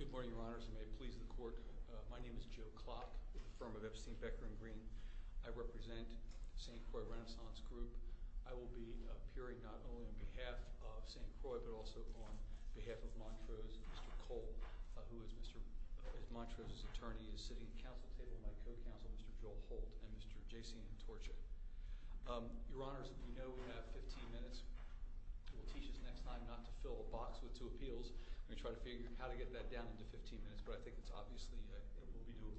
Good morning, Your Honors, and may it please the Court, my name is Joe Klock with the firm of Epstein, Becker & Green. I represent the St. Croix Renaissance Group. I will be appearing not only on behalf of St. Croix, but also on behalf of Montrose, Mr. Cole, who is Montrose's attorney, is sitting at the Council table with my co-counsel, Mr. Joel Holt, and Mr. J.C. Antorcha. Your Honors, as you know, we have 15 minutes. It will teach us next time not to fill a box with two appeals. We're going to try to figure out how to get that down into 15 minutes, but I think it's obviously doable.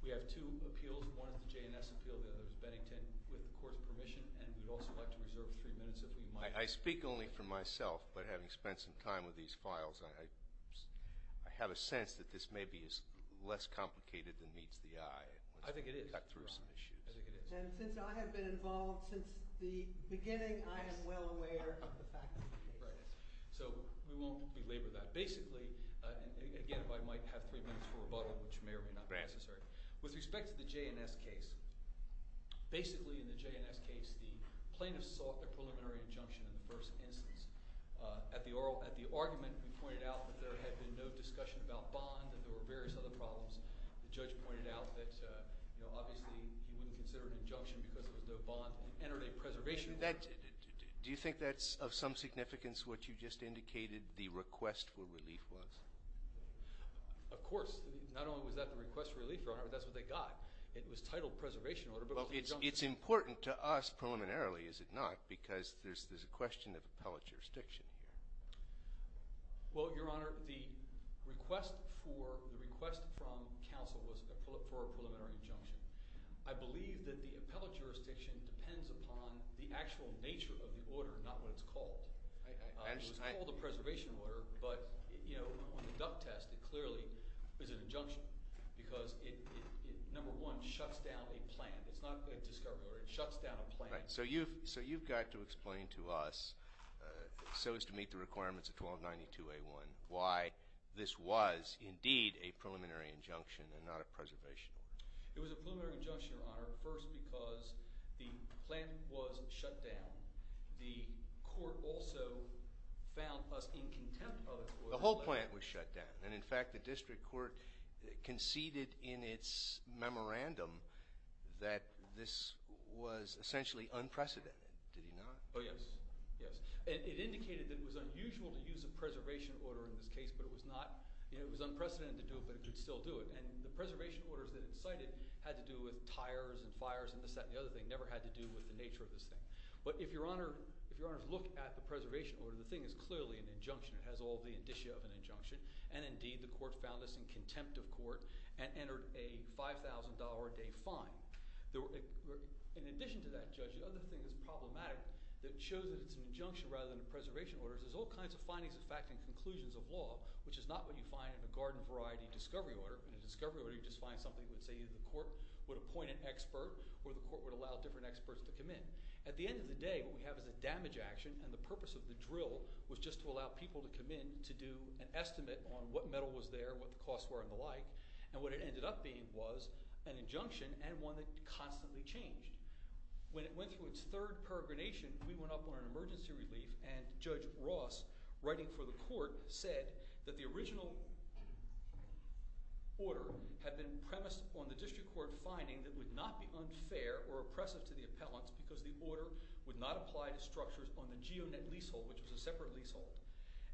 We have two appeals. One is the J&S appeal, the other is Bennington, with the Court's permission, and we'd also like to reserve three minutes if we might. I speak only for myself, but having spent some time with these files, I have a sense that this may be less complicated than meets the eye. I think it is. Cut through some issues. I think it is. And since I have been involved since the beginning, I am well aware of the facts of the case. So we won't belabor that. Basically, again, if I might have three minutes for rebuttal, which may or may not be necessary. With respect to the J&S case, basically, in the J&S case, the plaintiff sought a preliminary injunction in the first instance. At the argument, we pointed out that there had been no discussion about bond and there were various other problems. The judge pointed out that obviously he wouldn't consider an injunction because there was no bond. He entered a preservation order. Do you think that's of some significance, what you just indicated, the request for relief was? Of course. Not only was that the request for relief, Your Honor, but that's what they got. It was titled preservation order, but it was an injunction. It's important to us preliminarily, is it not, because there's a question of appellate jurisdiction here. Well, Your Honor, the request from counsel was for a preliminary injunction. I believe that the appellate jurisdiction depends upon the actual nature of the order, not what it's called. It was called a preservation order, but, you know, on the duck test, it clearly is an injunction because it, number one, shuts down a plan. It's not a discovery order. It shuts down a plan. So you've got to explain to us, so as to meet the requirements of 1292A1, why this was indeed a preliminary injunction and not a preservation order. It was a preliminary injunction, Your Honor, first because the plan was shut down. The court also found us in contempt of it. The whole plan was shut down, and in fact, the district court conceded in its memorandum that this was essentially unprecedented. Did you not? Oh, yes. Yes. It indicated that it was unusual to use a preservation order in this case, but it was not, you know, it was unprecedented to do it, but it could still do it, and the preservation orders that it cited had to do with tires and fires and this, that, and the other thing. Never had to do with the nature of this thing. But if Your Honor, if Your Honor's look at the preservation order, the thing is clearly an injunction. It has all the indicia of an injunction, and indeed, the court found us in contempt of In addition to that, Judge, the other thing that's problematic that shows that it's an injunction rather than a preservation order is there's all kinds of findings of fact and conclusions of law, which is not what you find in a garden variety discovery order. In a discovery order, you just find something that would say either the court would appoint an expert or the court would allow different experts to come in. At the end of the day, what we have is a damage action, and the purpose of the drill was just to allow people to come in to do an estimate on what metal was there, what the costs were, and the like, and what it ended up being was an injunction and one that constantly changed. When it went through its third peregrination, we went up on an emergency relief, and Judge Ross, writing for the court, said that the original order had been premised on the district court finding that it would not be unfair or oppressive to the appellants because the order would not apply to structures on the GeoNet leasehold, which was a separate leasehold,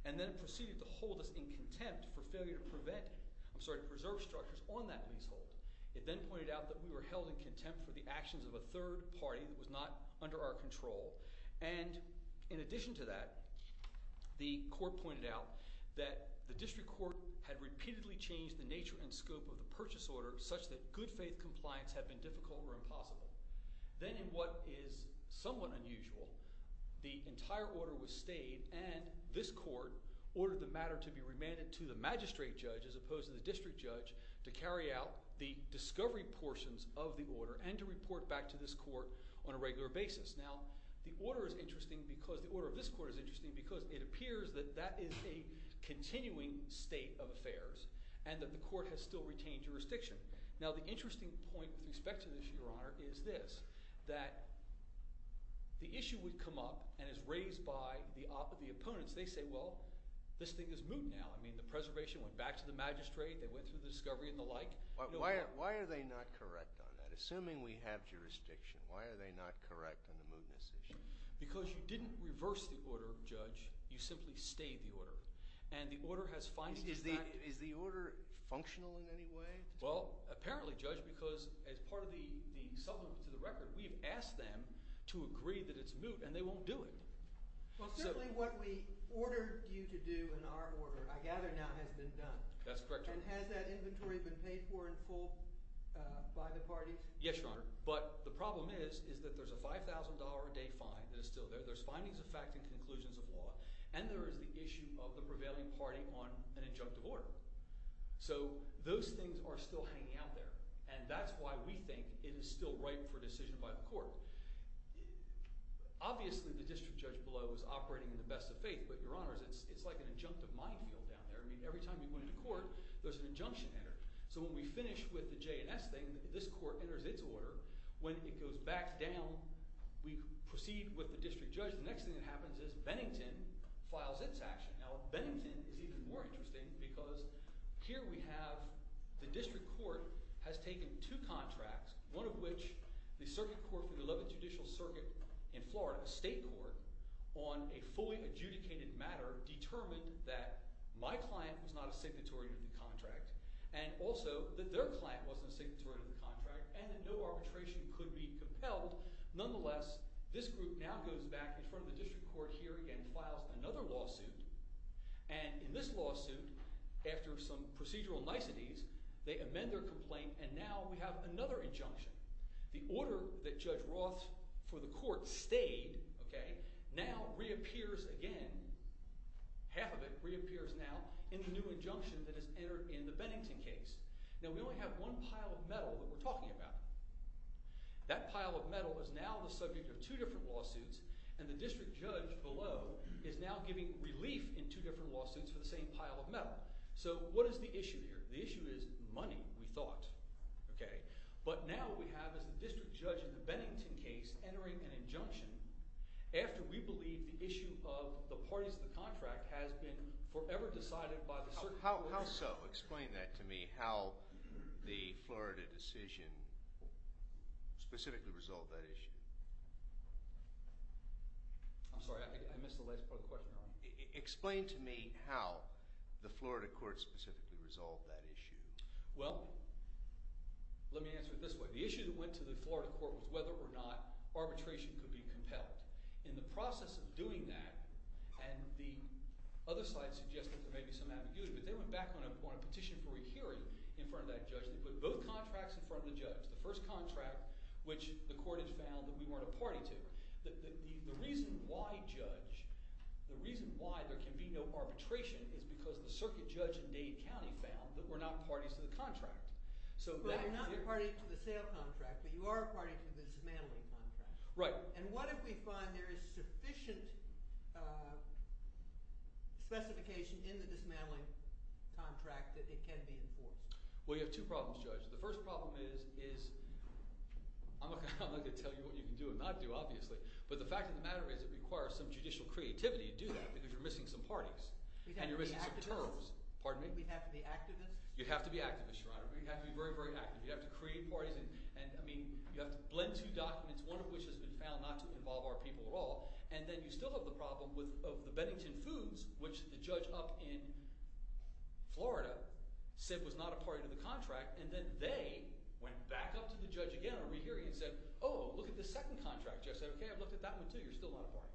and then proceeded to hold us in contempt for failure to prevent it. I'm sorry, to preserve structures on that leasehold. It then pointed out that we were held in contempt for the actions of a third party that was not under our control, and in addition to that, the court pointed out that the district court had repeatedly changed the nature and scope of the purchase order such that good faith compliance had been difficult or impossible. Then in what is somewhat unusual, the entire order was stayed and this court ordered the district judge to carry out the discovery portions of the order and to report back to this court on a regular basis. Now the order of this court is interesting because it appears that that is a continuing state of affairs and that the court has still retained jurisdiction. Now the interesting point with respect to this, Your Honor, is this, that the issue would come up and is raised by the opponents. They say, well, this thing is moot now. I mean, the preservation went back to the magistrate, they went through the discovery and the like. Why are they not correct on that? Assuming we have jurisdiction, why are they not correct on the mootness issue? Because you didn't reverse the order, Judge. You simply stayed the order. And the order has findings in that. Is the order functional in any way? Well, apparently, Judge, because as part of the settlement to the record, we've asked them to agree that it's moot and they won't do it. Well, certainly what we ordered you to do in our order, I gather, now has been done. That's correct, Your Honor. And has that inventory been paid for in full by the parties? Yes, Your Honor. But the problem is, is that there's a $5,000 a day fine that is still there. There's findings of fact and conclusions of law. And there is the issue of the prevailing party on an injunctive order. So those things are still hanging out there. And that's why we think it is still ripe for decision by the court. Obviously, the district judge below is operating in the best of faith. But, Your Honor, it's like an injunctive minefield down there. I mean, every time you go into court, there's an injunction entered. So when we finish with the J&S thing, this court enters its order. When it goes back down, we proceed with the district judge. The next thing that happens is Bennington files its action. Now, Bennington is even more interesting because here we have the district court has taken two contracts, one of which the circuit court for the 11th Judicial Circuit in Florida, a state court, on a fully adjudicated matter determined that my client was not a signatory to the contract and also that their client wasn't a signatory to the contract and that no arbitration could be compelled. Nonetheless, this group now goes back in front of the district court here again and files another lawsuit. And in this lawsuit, after some procedural niceties, they amend their complaint and now we have another injunction. The order that Judge Roth for the court stayed now reappears again. Half of it reappears now in the new injunction that has entered in the Bennington case. Now, we only have one pile of metal that we're talking about. That pile of metal is now the subject of two different lawsuits, and the district judge below is now giving relief in two different lawsuits for the same pile of metal. So what is the issue here? The issue is money, we thought. But now what we have is the district judge in the Bennington case entering an injunction after we believe the issue of the parties to the contract has been forever decided by the circuit court. How so? Explain that to me, how the Florida decision specifically resolved that issue. I'm sorry, I missed the last part of the question. Explain to me how the Florida court specifically resolved that issue. Well, let me answer it this way. The issue that went to the Florida court was whether or not arbitration could be compelled. In the process of doing that, and the other side suggested there may be some ambiguity, but they went back on a petition for a hearing in front of that judge and they put both contracts in front of the judge. The first contract, which the court had found that we weren't a party to. The reason why, Judge, the reason why there can be no arbitration is because the circuit judge in Dade County found that we're not parties to the contract. But you're not a party to the sale contract, but you are a party to the dismantling contract. Right. And what if we find there is sufficient specification in the dismantling contract that it can be enforced? Well, you have two problems, Judge. The first problem is I'm not going to tell you what you can do and not do, obviously, but the fact of the matter is it requires some judicial creativity to do that because you're missing some parties and you're missing some terms. We'd have to be activists. Pardon me? We'd have to be activists. You'd have to be activists, Your Honor. We'd have to be very, very active. You'd have to create parties and, I mean, you'd have to blend two documents, one of which has been found not to involve our people at all. And then you still have the problem of the Bennington Foods, which the judge up in Florida said was not a party to the contract, and then they went back up to the judge again on rehearing and said, oh, look at the second contract. Judge said, okay, I've looked at that one too. You're still not a party.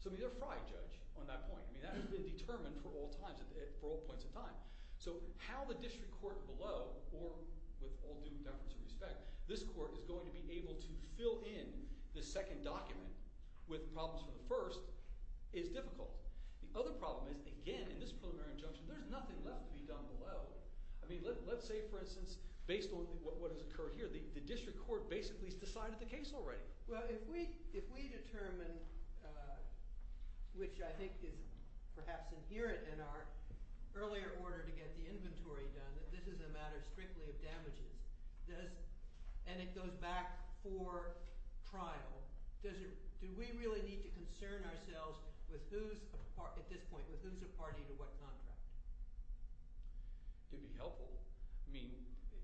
So, I mean, they're a fried judge on that point. I mean, that has been determined for all points of time. So how the district court below, or with all due deference and respect, this court is going to be able to fill in the second document with problems for the first is difficult. The other problem is, again, in this preliminary injunction, there's nothing left to be done below. I mean, let's say, for instance, based on what has occurred here, the district court basically has decided the case already. Well, if we determine, which I think is perhaps inherent in our earlier order to get the inventory done, that this is a matter strictly of damages, and it goes back for trial, do we really need to concern ourselves at this point with who's a party to what contract? It would be helpful. I mean,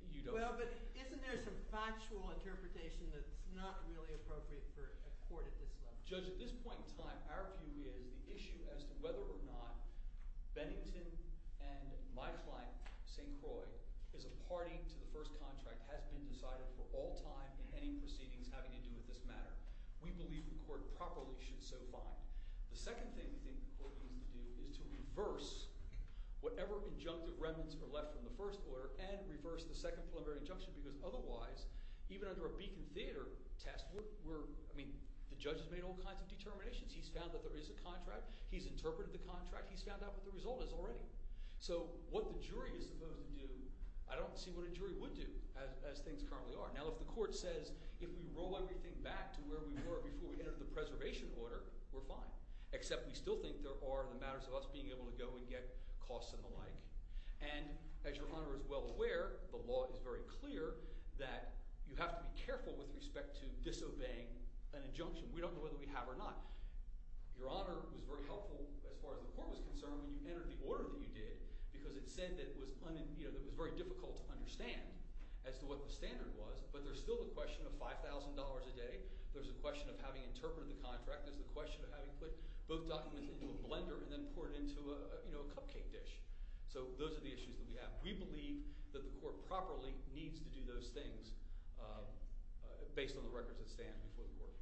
you don't... Well, but isn't there some factual interpretation that's not really appropriate for a court at this level? Judge, at this point in time, our view is the issue as to whether or not Bennington and my client, St. Croix, as a party to the first contract has been decided for all time in any proceedings having to do with this matter. We believe the court properly should so find. The second thing we think the court needs to do is to reverse whatever injunctive remnants are left from the first order and reverse the second preliminary injunction because otherwise, even under a Beacon Theatre test, I mean, the judge has made all kinds of determinations. He's found that there is a contract. He's interpreted the contract. He's found out what the result is already. So what the jury is supposed to do, I don't see what a jury would do as things currently are. Now, if the court says, if we roll everything back to where we were before we entered the preservation order, we're fine, except we still think there are the matters of us being able to go and get costs and the like. And as Your Honor is well aware, the law is very clear that you have to be careful with respect to disobeying an injunction. We don't know whether we have or not. Your Honor was very helpful as far as the court was concerned when you entered the order that you did because it said that it was very difficult to understand as to what the standard was, but there's still the question of $5,000 a day. There's the question of having interpreted the contract. There's the question of having put both documents into a blender and then poured it into a cupcake dish. So those are the issues that we have. We believe that the court properly needs to do those things based on the records that stand before the court.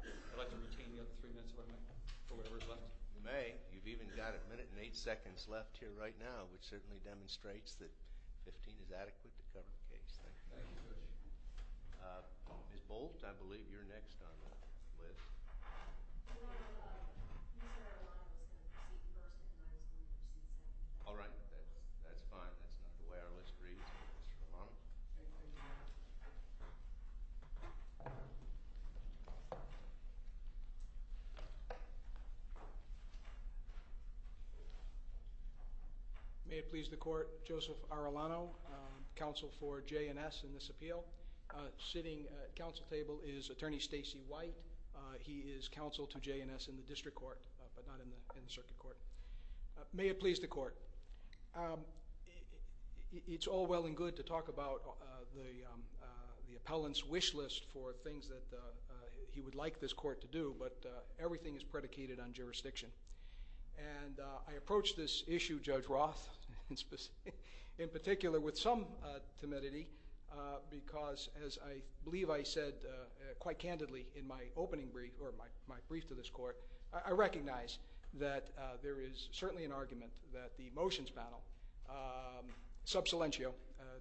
I'd like to retain the other three minutes if I may for whatever is left. You may. You've even got a minute and eight seconds left here right now, which certainly demonstrates that 15 is adequate to cover the case. Thank you. Ms. Bolt, I believe you're next on the list. All right. That's fine. That's not the way our list reads, Mr. Arulano. May it please the court, Joseph Arulano, counsel for J&S in this appeal. Sitting at the council table is Attorney Stacey White. He is counsel to J&S in the district court but not in the circuit court. May it please the court, it's all well and good to talk about the appellant's wish list for things that he would like this court to do, but everything is predicated on jurisdiction. And I approached this issue, Judge Roth, in particular with some timidity because as I believe I said quite candidly in my opening brief or my brief to this court, I recognize that there is certainly an argument that the motions panel, sub silentio,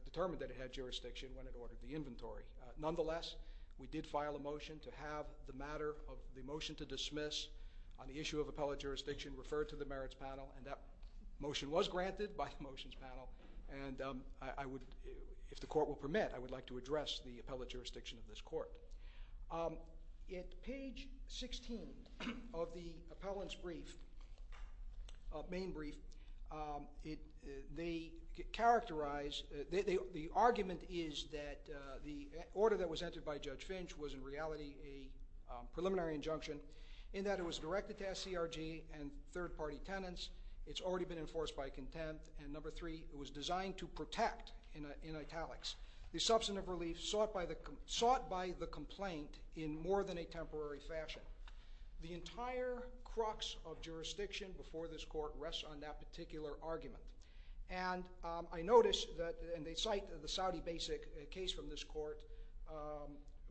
determined that it had jurisdiction when it ordered the inventory. Nonetheless, we did file a motion to have the matter of the motion to dismiss on the issue of appellate jurisdiction referred to the merits panel and that motion was granted by the motions panel. And I would, if the court will permit, I would like to address the appellate jurisdiction of this court. At page 16 of the appellant's brief, main brief, they characterize, the argument is that the order that was entered by Judge Finch was in reality a preliminary injunction in that it was directed to SCRG and third party tenants. It's already been enforced by contempt. And number three, it was designed to protect, in italics, the substantive relief sought by the complaint in more than a temporary fashion. The entire crux of jurisdiction before this court rests on that particular argument. And I notice that, and they cite the Saudi basic case from this court,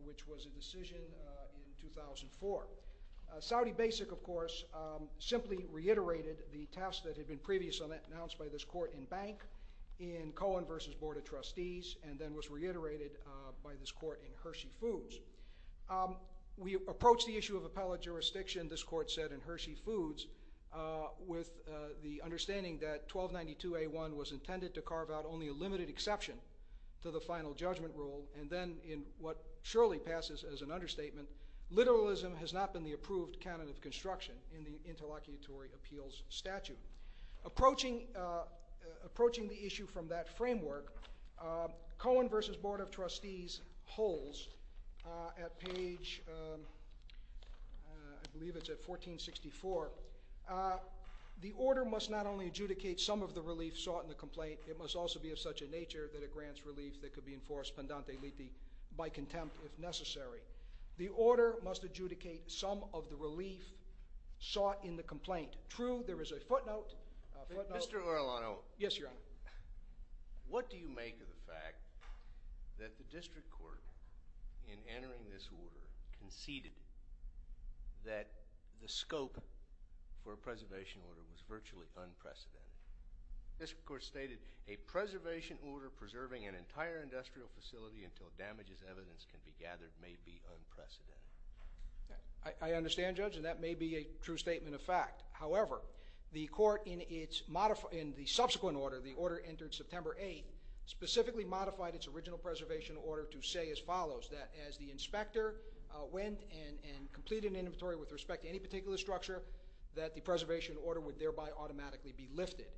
which was a decision in 2004. Saudi basic, of course, simply reiterated the task that had been previously announced by this court in Bank, in Cohen versus Board of Trustees, and then was reiterated by this court in Hershey Foods. We approached the issue of appellate jurisdiction, this court said, in Hershey Foods with the understanding that 1292A1 was intended to carve out only a limited exception to the final judgment rule. And then in what surely passes as an understatement, literalism has not been the approved canon of construction in the interlocutory appeals statute. Approaching the issue from that framework, Cohen versus Board of Trustees holds at page, I believe it's at 1464, the order must not only adjudicate some of the relief sought in the complaint, it must also be of such a nature that it grants relief that could be enforced pendante liti by contempt if necessary. The order must adjudicate some of the relief sought in the complaint. True, there is a footnote. Mr. Orellano. Yes, Your Honor. What do you make of the fact that the district court, in entering this order, conceded that the scope for a preservation order was virtually unprecedented? This court stated, a preservation order preserving an entire industrial facility until damages evidence can be gathered may be unprecedented. I understand, Judge, and that may be a true statement of fact. However, the court in the subsequent order, the order entered September 8th, specifically modified its original preservation order to say as follows, that as the inspector went and completed an inventory with respect to any particular structure, that the preservation order would thereby automatically be lifted.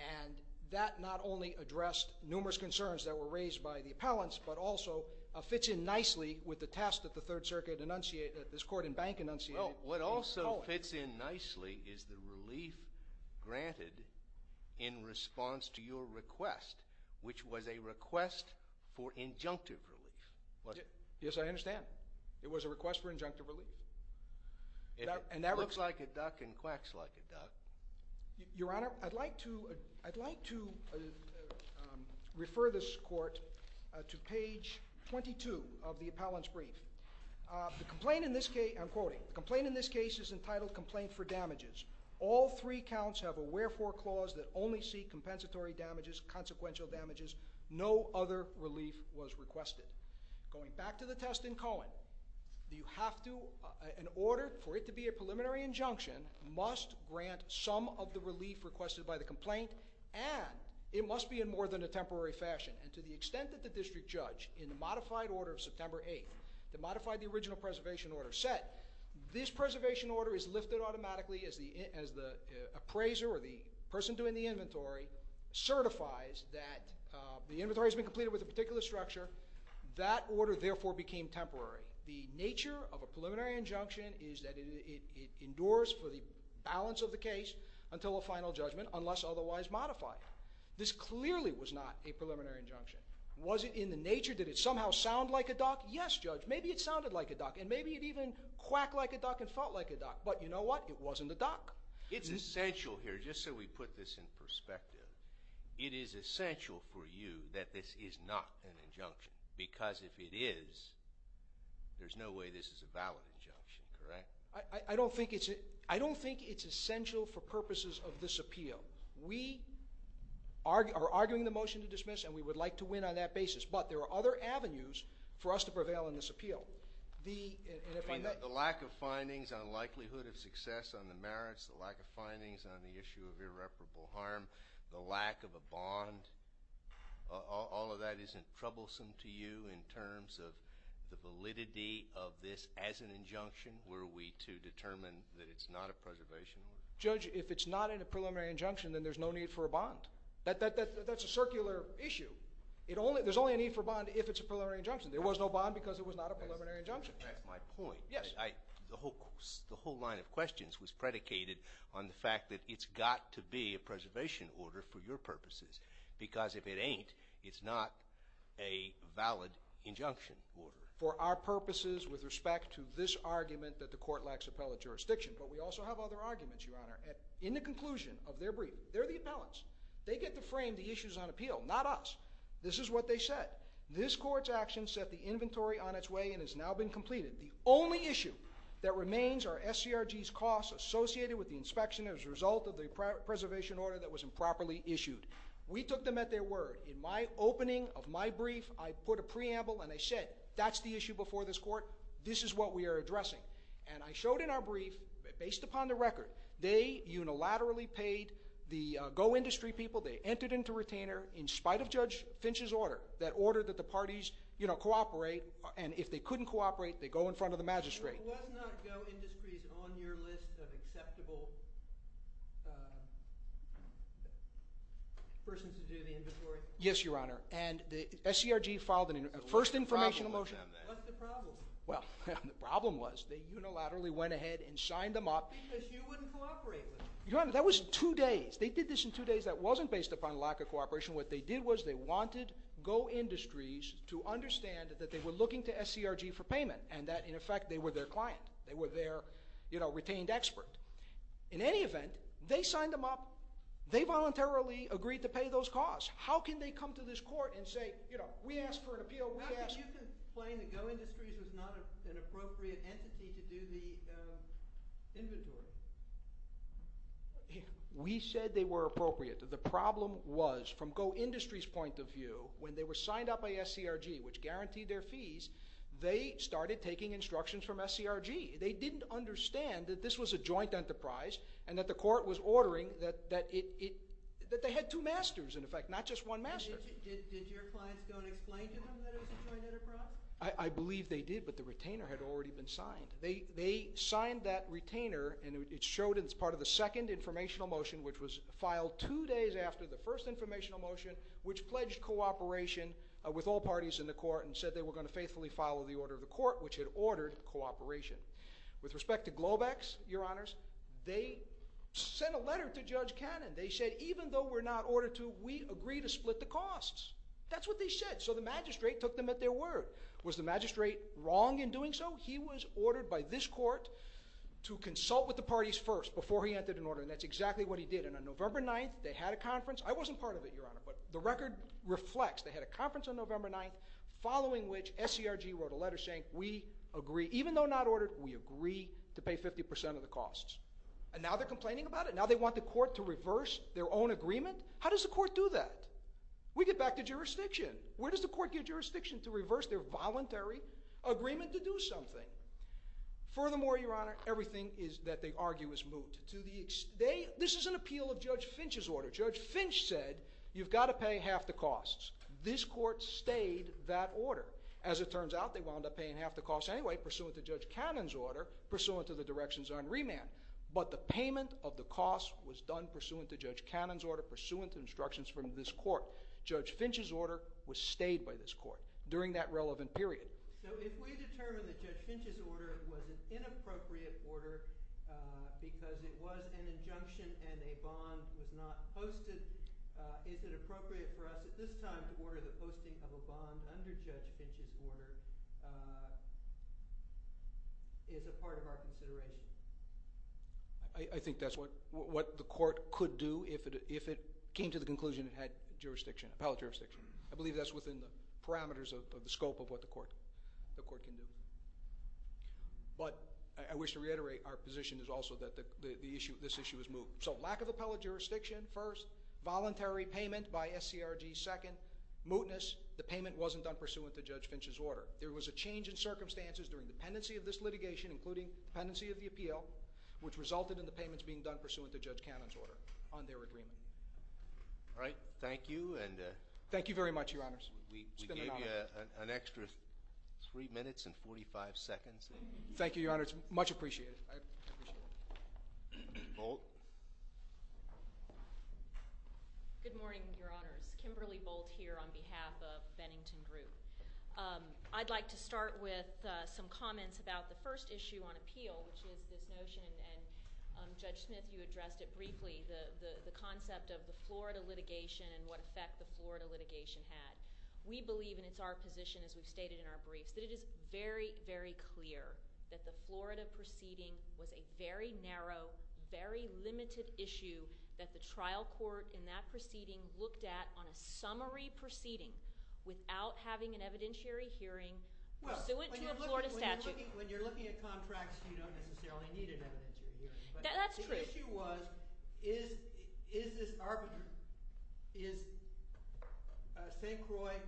And that not only addressed numerous concerns that were raised by the district court, but also fits in nicely with the task that the Third Circuit enunciated, this court in Bank enunciated. What also fits in nicely is the relief granted in response to your request, which was a request for injunctive relief. Yes, I understand. It was a request for injunctive relief. It looks like a duck and quacks like a duck. Your Honor, I'd like to refer this court to page 22 of the appellant's brief. The complaint in this case, I'm quoting, the complaint in this case is entitled complaint for damages. All three counts have a wherefore clause that only seek compensatory damages, consequential damages. No other relief was requested. Going back to the test in Cohen, you have to, in order for it to be a And it must be in more than a temporary fashion. And to the extent that the district judge in the modified order of September 8th, that modified the original preservation order set, this preservation order is lifted automatically as the appraiser or the person doing the inventory certifies that the inventory has been completed with a particular structure. That order therefore became temporary. The nature of a preliminary injunction is that it endures for the balance of the case until a final judgment unless otherwise modified. This clearly was not a preliminary injunction. Was it in the nature? Did it somehow sound like a duck? Yes, Judge, maybe it sounded like a duck. And maybe it even quacked like a duck and felt like a duck. But you know what? It wasn't a duck. It's essential here, just so we put this in perspective, it is essential for you that this is not an injunction. Because if it is, there's no way this is a valid injunction, correct? I don't think it's essential for purposes of this appeal. We are arguing the motion to dismiss, and we would like to win on that basis. But there are other avenues for us to prevail in this appeal. The lack of findings on likelihood of success on the merits, the lack of findings on the issue of irreparable harm, the lack of a bond, all of that isn't troublesome to you in terms of the need to determine that it's not a preservation order? Judge, if it's not in a preliminary injunction, then there's no need for a bond. That's a circular issue. There's only a need for a bond if it's a preliminary injunction. There was no bond because it was not a preliminary injunction. That's my point. Yes. The whole line of questions was predicated on the fact that it's got to be a preservation order for your purposes. Because if it ain't, it's not a valid injunction order. with respect to this argument that the court lacks appellate jurisdiction. But we also have other arguments, Your Honor, in the conclusion of their brief. They're the appellants. They get to frame the issues on appeal, not us. This is what they said. This court's action set the inventory on its way and has now been completed. The only issue that remains are SCRG's costs associated with the inspection as a result of the preservation order that was improperly issued. We took them at their word. In my opening of my brief, I put a preamble, and I said, that's the issue before this court. This is what we are addressing. And I showed in our brief, based upon the record, they unilaterally paid the GO Industry people. They entered into retainer in spite of Judge Finch's order, that order that the parties cooperate. And if they couldn't cooperate, they go in front of the magistrate. Was not GO Industries on your list of acceptable persons to do the inventory? Yes, Your Honor. And SCRG filed a first information motion. What's the problem? Well, the problem was they unilaterally went ahead and signed them up. Because you wouldn't cooperate with them. Your Honor, that was two days. They did this in two days that wasn't based upon lack of cooperation. What they did was they wanted GO Industries to understand that they were looking to SCRG for payment, and that, in effect, they were their client. They were their retained expert. In any event, they signed them up. They voluntarily agreed to pay those costs. How can they come to this court and say, you know, we asked for an appeal. How could you complain that GO Industries was not an appropriate entity to do the inventory? We said they were appropriate. The problem was, from GO Industries' point of view, when they were signed up by SCRG, which guaranteed their fees, they started taking instructions from SCRG. They didn't understand that this was a joint enterprise and that the court was ordering that they had two masters, in effect, not just one master. Did your clients go and explain to them that it was a joint enterprise? I believe they did, but the retainer had already been signed. They signed that retainer, and it showed as part of the second informational motion, which was filed two days after the first informational motion, which pledged cooperation with all parties in the court and said they were going to faithfully follow the order of the court, which had ordered cooperation. With respect to Globex, Your Honors, they sent a letter to Judge Cannon. They said, even though we're not ordered to, we agree to split the costs. That's what they said, so the magistrate took them at their word. Was the magistrate wrong in doing so? He was ordered by this court to consult with the parties first before he entered an order, and that's exactly what he did. And on November 9th, they had a conference. I wasn't part of it, Your Honor, but the record reflects. They had a conference on November 9th, following which SCRG wrote a letter saying we agree, even though not ordered, we agree to pay 50% of the costs. And now they're complaining about it. Now they want the court to reverse their own agreement? How does the court do that? We get back to jurisdiction. Where does the court get jurisdiction to reverse their voluntary agreement to do something? Furthermore, Your Honor, everything that they argue is moot. This is an appeal of Judge Finch's order. Judge Finch said you've got to pay half the costs. This court stayed that order. As it turns out, they wound up paying half the costs anyway, pursuant to Judge Cannon's order, pursuant to the directions on remand. But the payment of the costs was done pursuant to Judge Cannon's order, pursuant to instructions from this court. Judge Finch's order was stayed by this court during that relevant period. So if we determine that Judge Finch's order was an inappropriate order because it was an injunction and a bond was not posted, is it appropriate for us at this time to order the posting of a bond under Judge Finch's order is a part of our consideration? I think that's what the court could do if it came to the conclusion it had jurisdiction, appellate jurisdiction. I believe that's within the parameters of the scope of what the court can do. But I wish to reiterate our position is also that this issue is moot. So lack of appellate jurisdiction, first. Voluntary payment by SCRG, second. Mootness, the payment wasn't done pursuant to Judge Finch's order. There was a change in circumstances during the pendency of this litigation, including pendency of the appeal, which resulted in the payments being done pursuant to Judge Cannon's order on their agreement. All right. Thank you. Thank you very much, Your Honors. We give you an extra three minutes and 45 seconds. Thank you, Your Honors. Much appreciated. Bolt. Good morning, Your Honors. Kimberly Bolt here on behalf of Bennington Group. I'd like to start with some comments about the first issue on appeal, which is this notion, and Judge Smith, you addressed it briefly, the concept of the Florida litigation and what effect the Florida litigation had. We believe, and it's our position as we've stated in our briefs, that it is very, very clear that the Florida proceeding was a very narrow, very limited issue that the trial court in that proceeding looked at on a summary proceeding without having an evidentiary hearing pursuant to a Florida statute. Well, when you're looking at contracts, you don't necessarily need an evidentiary hearing. That's true. But the issue was, is this arbitrary? Is St. Croix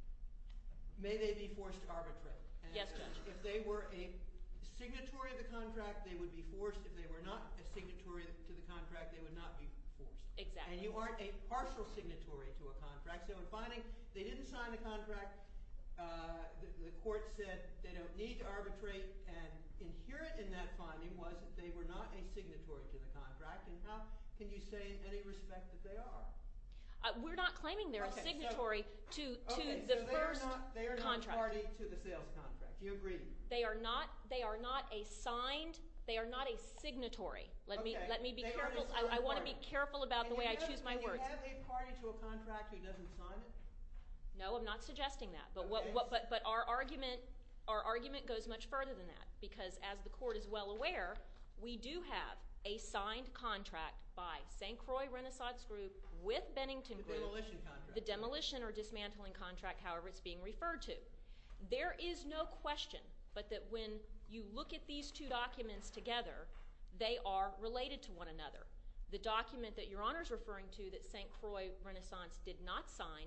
– may they be forced to arbitrate? Yes, Judge. And if they were a signatory of the contract, they would be forced. If they were not a signatory to the contract, they would not be forced. Exactly. And you aren't a partial signatory to a contract. So in finding they didn't sign the contract, the court said they don't need to arbitrate, and inherent in that finding was that they were not a signatory to the contract. And how can you say in any respect that they are? We're not claiming they're a signatory to the first contract. Okay, so they are not party to the sales contract. Do you agree? They are not a signed – they are not a signatory. Okay. Let me be careful. I want to be careful about the way I choose my words. Do you have a party to a contract who doesn't sign it? No, I'm not suggesting that. Okay. But our argument goes much further than that because as the court is well aware, we do have a signed contract by St. Croix Renaissance Group with Bennington Group. The demolition contract. The demolition or dismantling contract, however it's being referred to. There is no question but that when you look at these two documents together, they are related to one another. The document that Your Honor is referring to that St. Croix Renaissance did not sign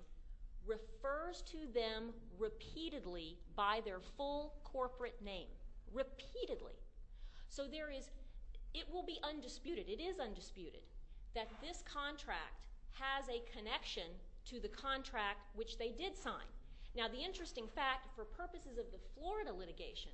refers to them repeatedly by their full corporate name. Repeatedly. So there is – it will be undisputed, it is undisputed, that this contract has a connection to the contract which they did sign. Now the interesting fact, for purposes of the Florida litigation,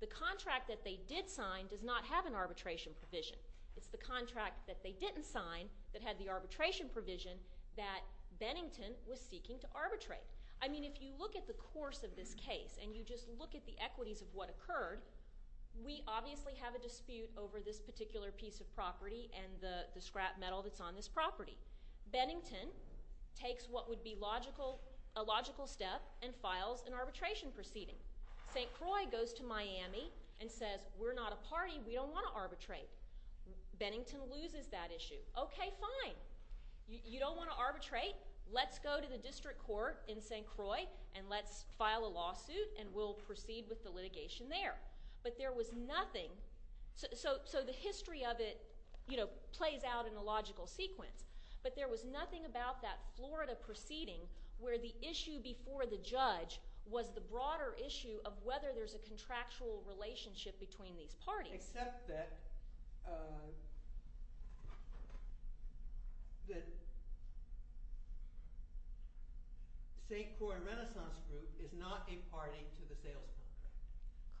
the contract that they did sign does not have an arbitration provision. It's the contract that they didn't sign that had the arbitration provision that Bennington was seeking to arbitrate. I mean if you look at the course of this case and you just look at the equities of what occurred, we obviously have a dispute over this particular piece of property and the scrap metal that's on this property. Bennington takes what would be a logical step and files an arbitration proceeding. St. Croix goes to Miami and says, we're not a party, we don't want to arbitrate. Bennington loses that issue. Okay, fine, you don't want to arbitrate, let's go to the district court in St. Croix and let's file a lawsuit and we'll proceed with the litigation there. But there was nothing – so the history of it plays out in a logical sequence. But there was nothing about that Florida proceeding where the issue before the judge was the broader issue of whether there's a contractual relationship between these parties. Except that St. Croix Renaissance Group is not a party to the sales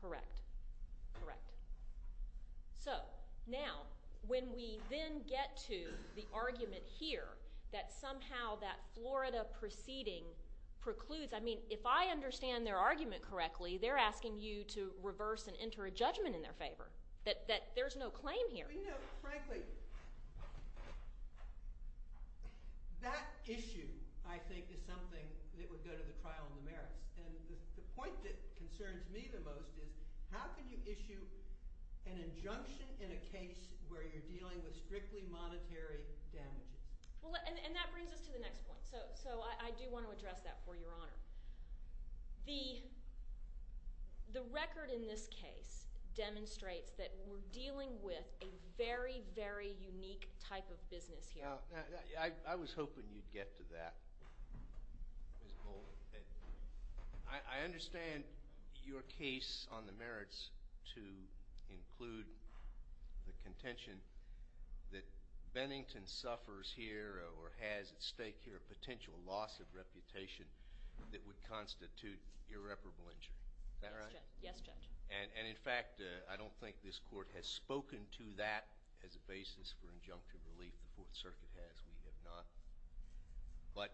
contract. Correct, correct. So now when we then get to the argument here that somehow that Florida proceeding precludes – I mean if I understand their argument correctly, they're asking you to reverse and enter a judgment in their favor, that there's no claim here. Frankly, that issue I think is something that would go to the trial in the merits. And the point that concerns me the most is how can you issue an injunction in a case where you're dealing with strictly monetary damages? And that brings us to the next point. So I do want to address that for your honor. The record in this case demonstrates that we're dealing with a very, very unique type of business here. I was hoping you'd get to that. Ms. Bolden. I understand your case on the merits to include the contention that Bennington suffers here or has at stake here a potential loss of reputation that would constitute irreparable injury. Is that right? Yes, Judge. And in fact, I don't think this Court has spoken to that as a basis for injunctive relief. The Fourth Circuit has. We have not. But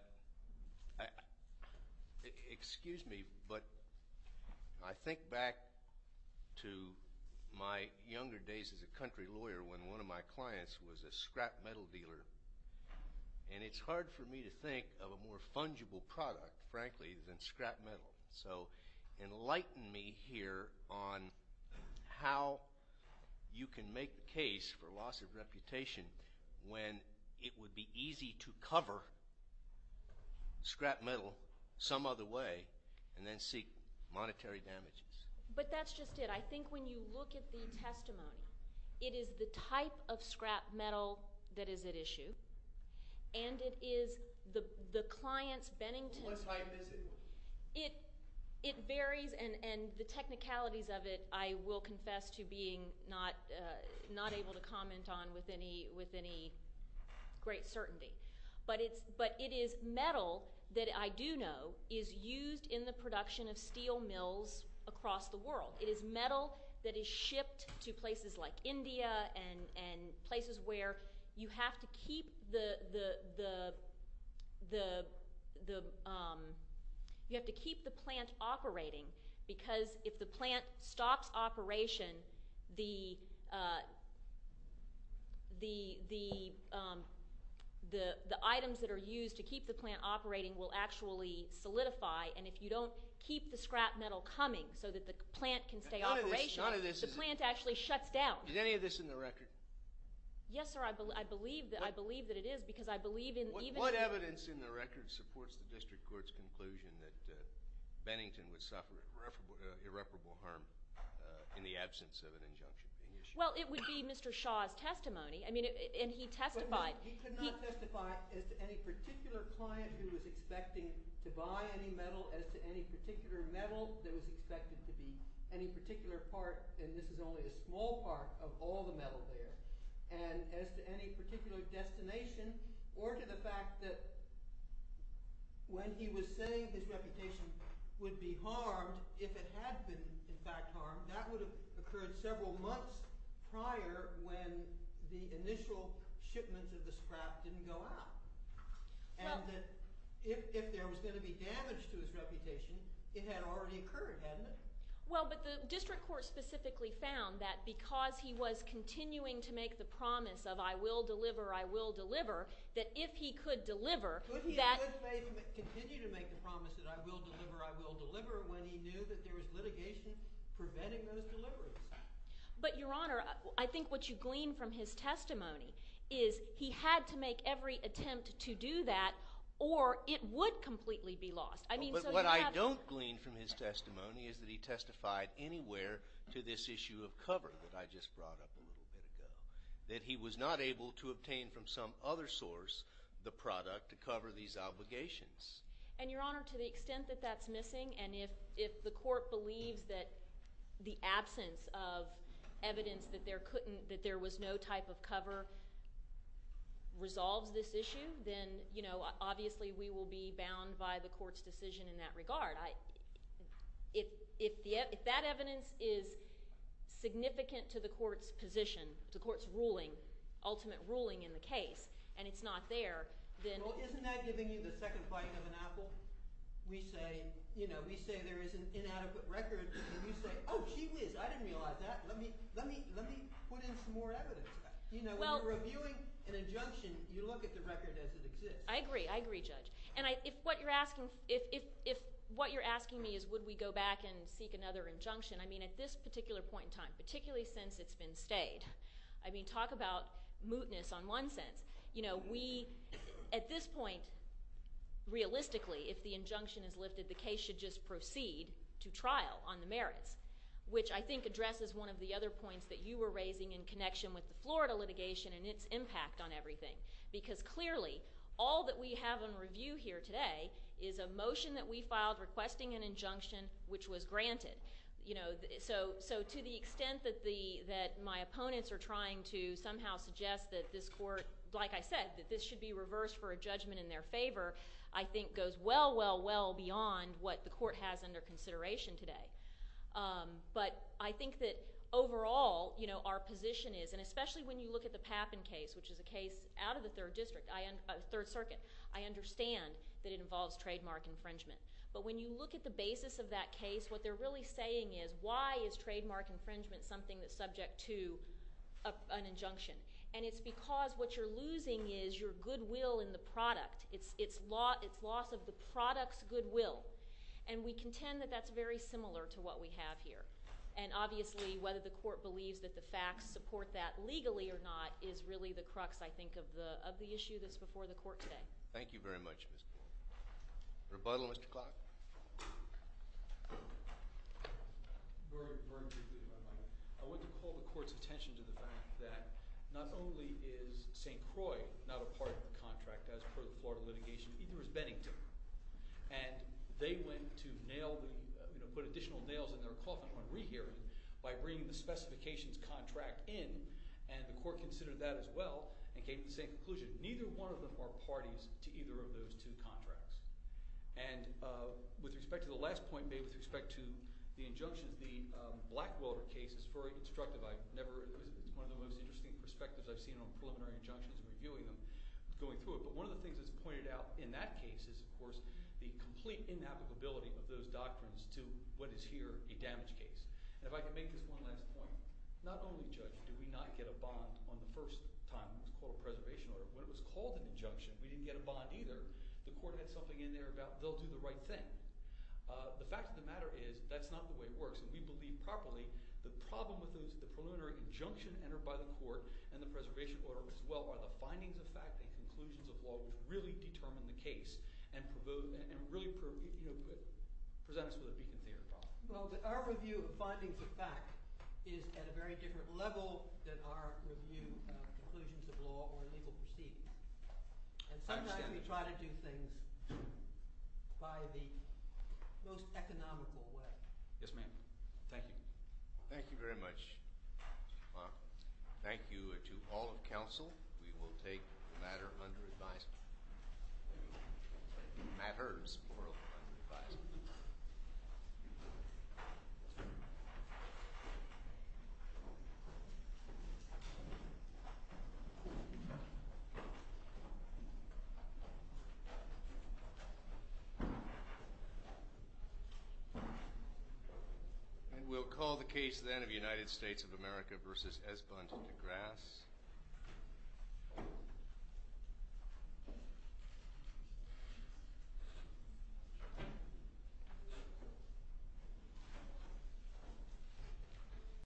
excuse me, but I think back to my younger days as a country lawyer when one of my clients was a scrap metal dealer. And it's hard for me to think of a more fungible product, frankly, than scrap metal. So enlighten me here on how you can make the case for loss of reputation when it would be easy to cover scrap metal some other way and then seek monetary damages. But that's just it. I think when you look at the testimony, it is the type of scrap metal that is at issue, and it is the client's Bennington. What type is it? It varies, and the technicalities of it I will confess to being not able to comment on with any great certainty. But it is metal that I do know is used in the production of steel mills across the world. It is metal that is shipped to places like India and places where you have to keep the plant operating because if the plant stops operation, the items that are used to keep the plant operating will actually solidify. And if you don't keep the scrap metal coming so that the plant can stay operating, the plant actually shuts down. Is any of this in the record? Yes, sir, I believe that it is because I believe in even— irreparable harm in the absence of an injunction being issued. Well, it would be Mr. Shaw's testimony. I mean, and he testified. He could not testify as to any particular client who was expecting to buy any metal, as to any particular metal that was expected to be any particular part, and this is only a small part of all the metal there, and as to any particular destination or to the fact that when he was saying his reputation would be harmed, if it had been in fact harmed, that would have occurred several months prior when the initial shipments of the scrap didn't go out. And that if there was going to be damage to his reputation, it had already occurred, hadn't it? Well, but the district court specifically found that because he was continuing to make the promise of I will deliver, I will deliver, that if he could deliver that— But he could continue to make the promise that I will deliver, I will deliver when he knew that there was litigation preventing those deliveries. But, Your Honor, I think what you glean from his testimony is he had to make every attempt to do that or it would completely be lost. I mean, so you have— But what I don't glean from his testimony is that he testified anywhere to this issue of cover that I just brought up a little bit ago, that he was not able to obtain from some other source the product to cover these obligations. And, Your Honor, to the extent that that's missing and if the court believes that the absence of evidence that there couldn't— that there was no type of cover resolves this issue, then obviously we will be bound by the court's decision in that regard. If that evidence is significant to the court's position, to the court's ruling, ultimate ruling in the case, and it's not there, then— Well, isn't that giving you the second bite of an apple? We say, you know, we say there is an inadequate record and you say, oh, gee whiz, I didn't realize that. Let me put in some more evidence. You know, when you're reviewing an injunction, you look at the record as it exists. I agree. I agree, Judge. And if what you're asking— if what you're asking me is would we go back and seek another injunction, I mean, at this particular point in time, particularly since it's been stayed, I mean, talk about mootness on one sense. You know, we—at this point, realistically, if the injunction is lifted, the case should just proceed to trial on the merits, which I think addresses one of the other points that you were raising in connection with the Florida litigation and its impact on everything. Because clearly, all that we have on review here today is a motion that we filed requesting an injunction which was granted. You know, so to the extent that my opponents are trying to somehow suggest that this court— like I said, that this should be reversed for a judgment in their favor, I think goes well, well, well beyond what the court has under consideration today. But I think that overall, you know, our position is— and especially when you look at the Pappen case, which is a case out of the Third District, Third Circuit, I understand that it involves trademark infringement. But when you look at the basis of that case, what they're really saying is why is trademark infringement something that's subject to an injunction? And it's because what you're losing is your goodwill in the product. It's loss of the product's goodwill. And we contend that that's very similar to what we have here. And obviously, whether the court believes that the facts support that legally or not is really the crux, I think, of the issue that's before the court today. Thank you very much, Ms. Coyle. Rebuttal, Mr. Clark. Very briefly, Your Honor. I want to call the court's attention to the fact that not only is St. Croix not a part of the contract as per the Florida litigation, either is Bennington. And they went to nail the, you know, put additional nails in their coffin on rehearing by bringing the specifications contract in, and the court considered that as well and came to the same conclusion. Neither one of them are parties to either of those two contracts. And with respect to the last point made with respect to the injunctions, the Blackwater case is very instructive. It's one of the most interesting perspectives I've seen on preliminary injunctions and reviewing them, going through it. But one of the things that's pointed out in that case is, of course, the complete inapplicability of those doctrines to what is here a damage case. And if I can make this one last point, not only, Judge, did we not get a bond on the first time it was called a preservation order. When it was called an injunction, we didn't get a bond either. The court had something in there about they'll do the right thing. The fact of the matter is that's not the way it works. And we believe properly the problem with the preliminary injunction entered by the court and the preservation order as well are the findings of fact and conclusions of law which really determine the case and really present us with a beacon theory problem. Well, our review of findings of fact is at a very different level than our review of conclusions of law or legal proceedings. And sometimes we try to do things by the most economical way. Yes, ma'am. Thank you. Thank you very much. Thank you to all of counsel. We will take the matter under advisement. And we'll call the case then of United States of America v. Esbunt and DeGrasse. Thank you very much.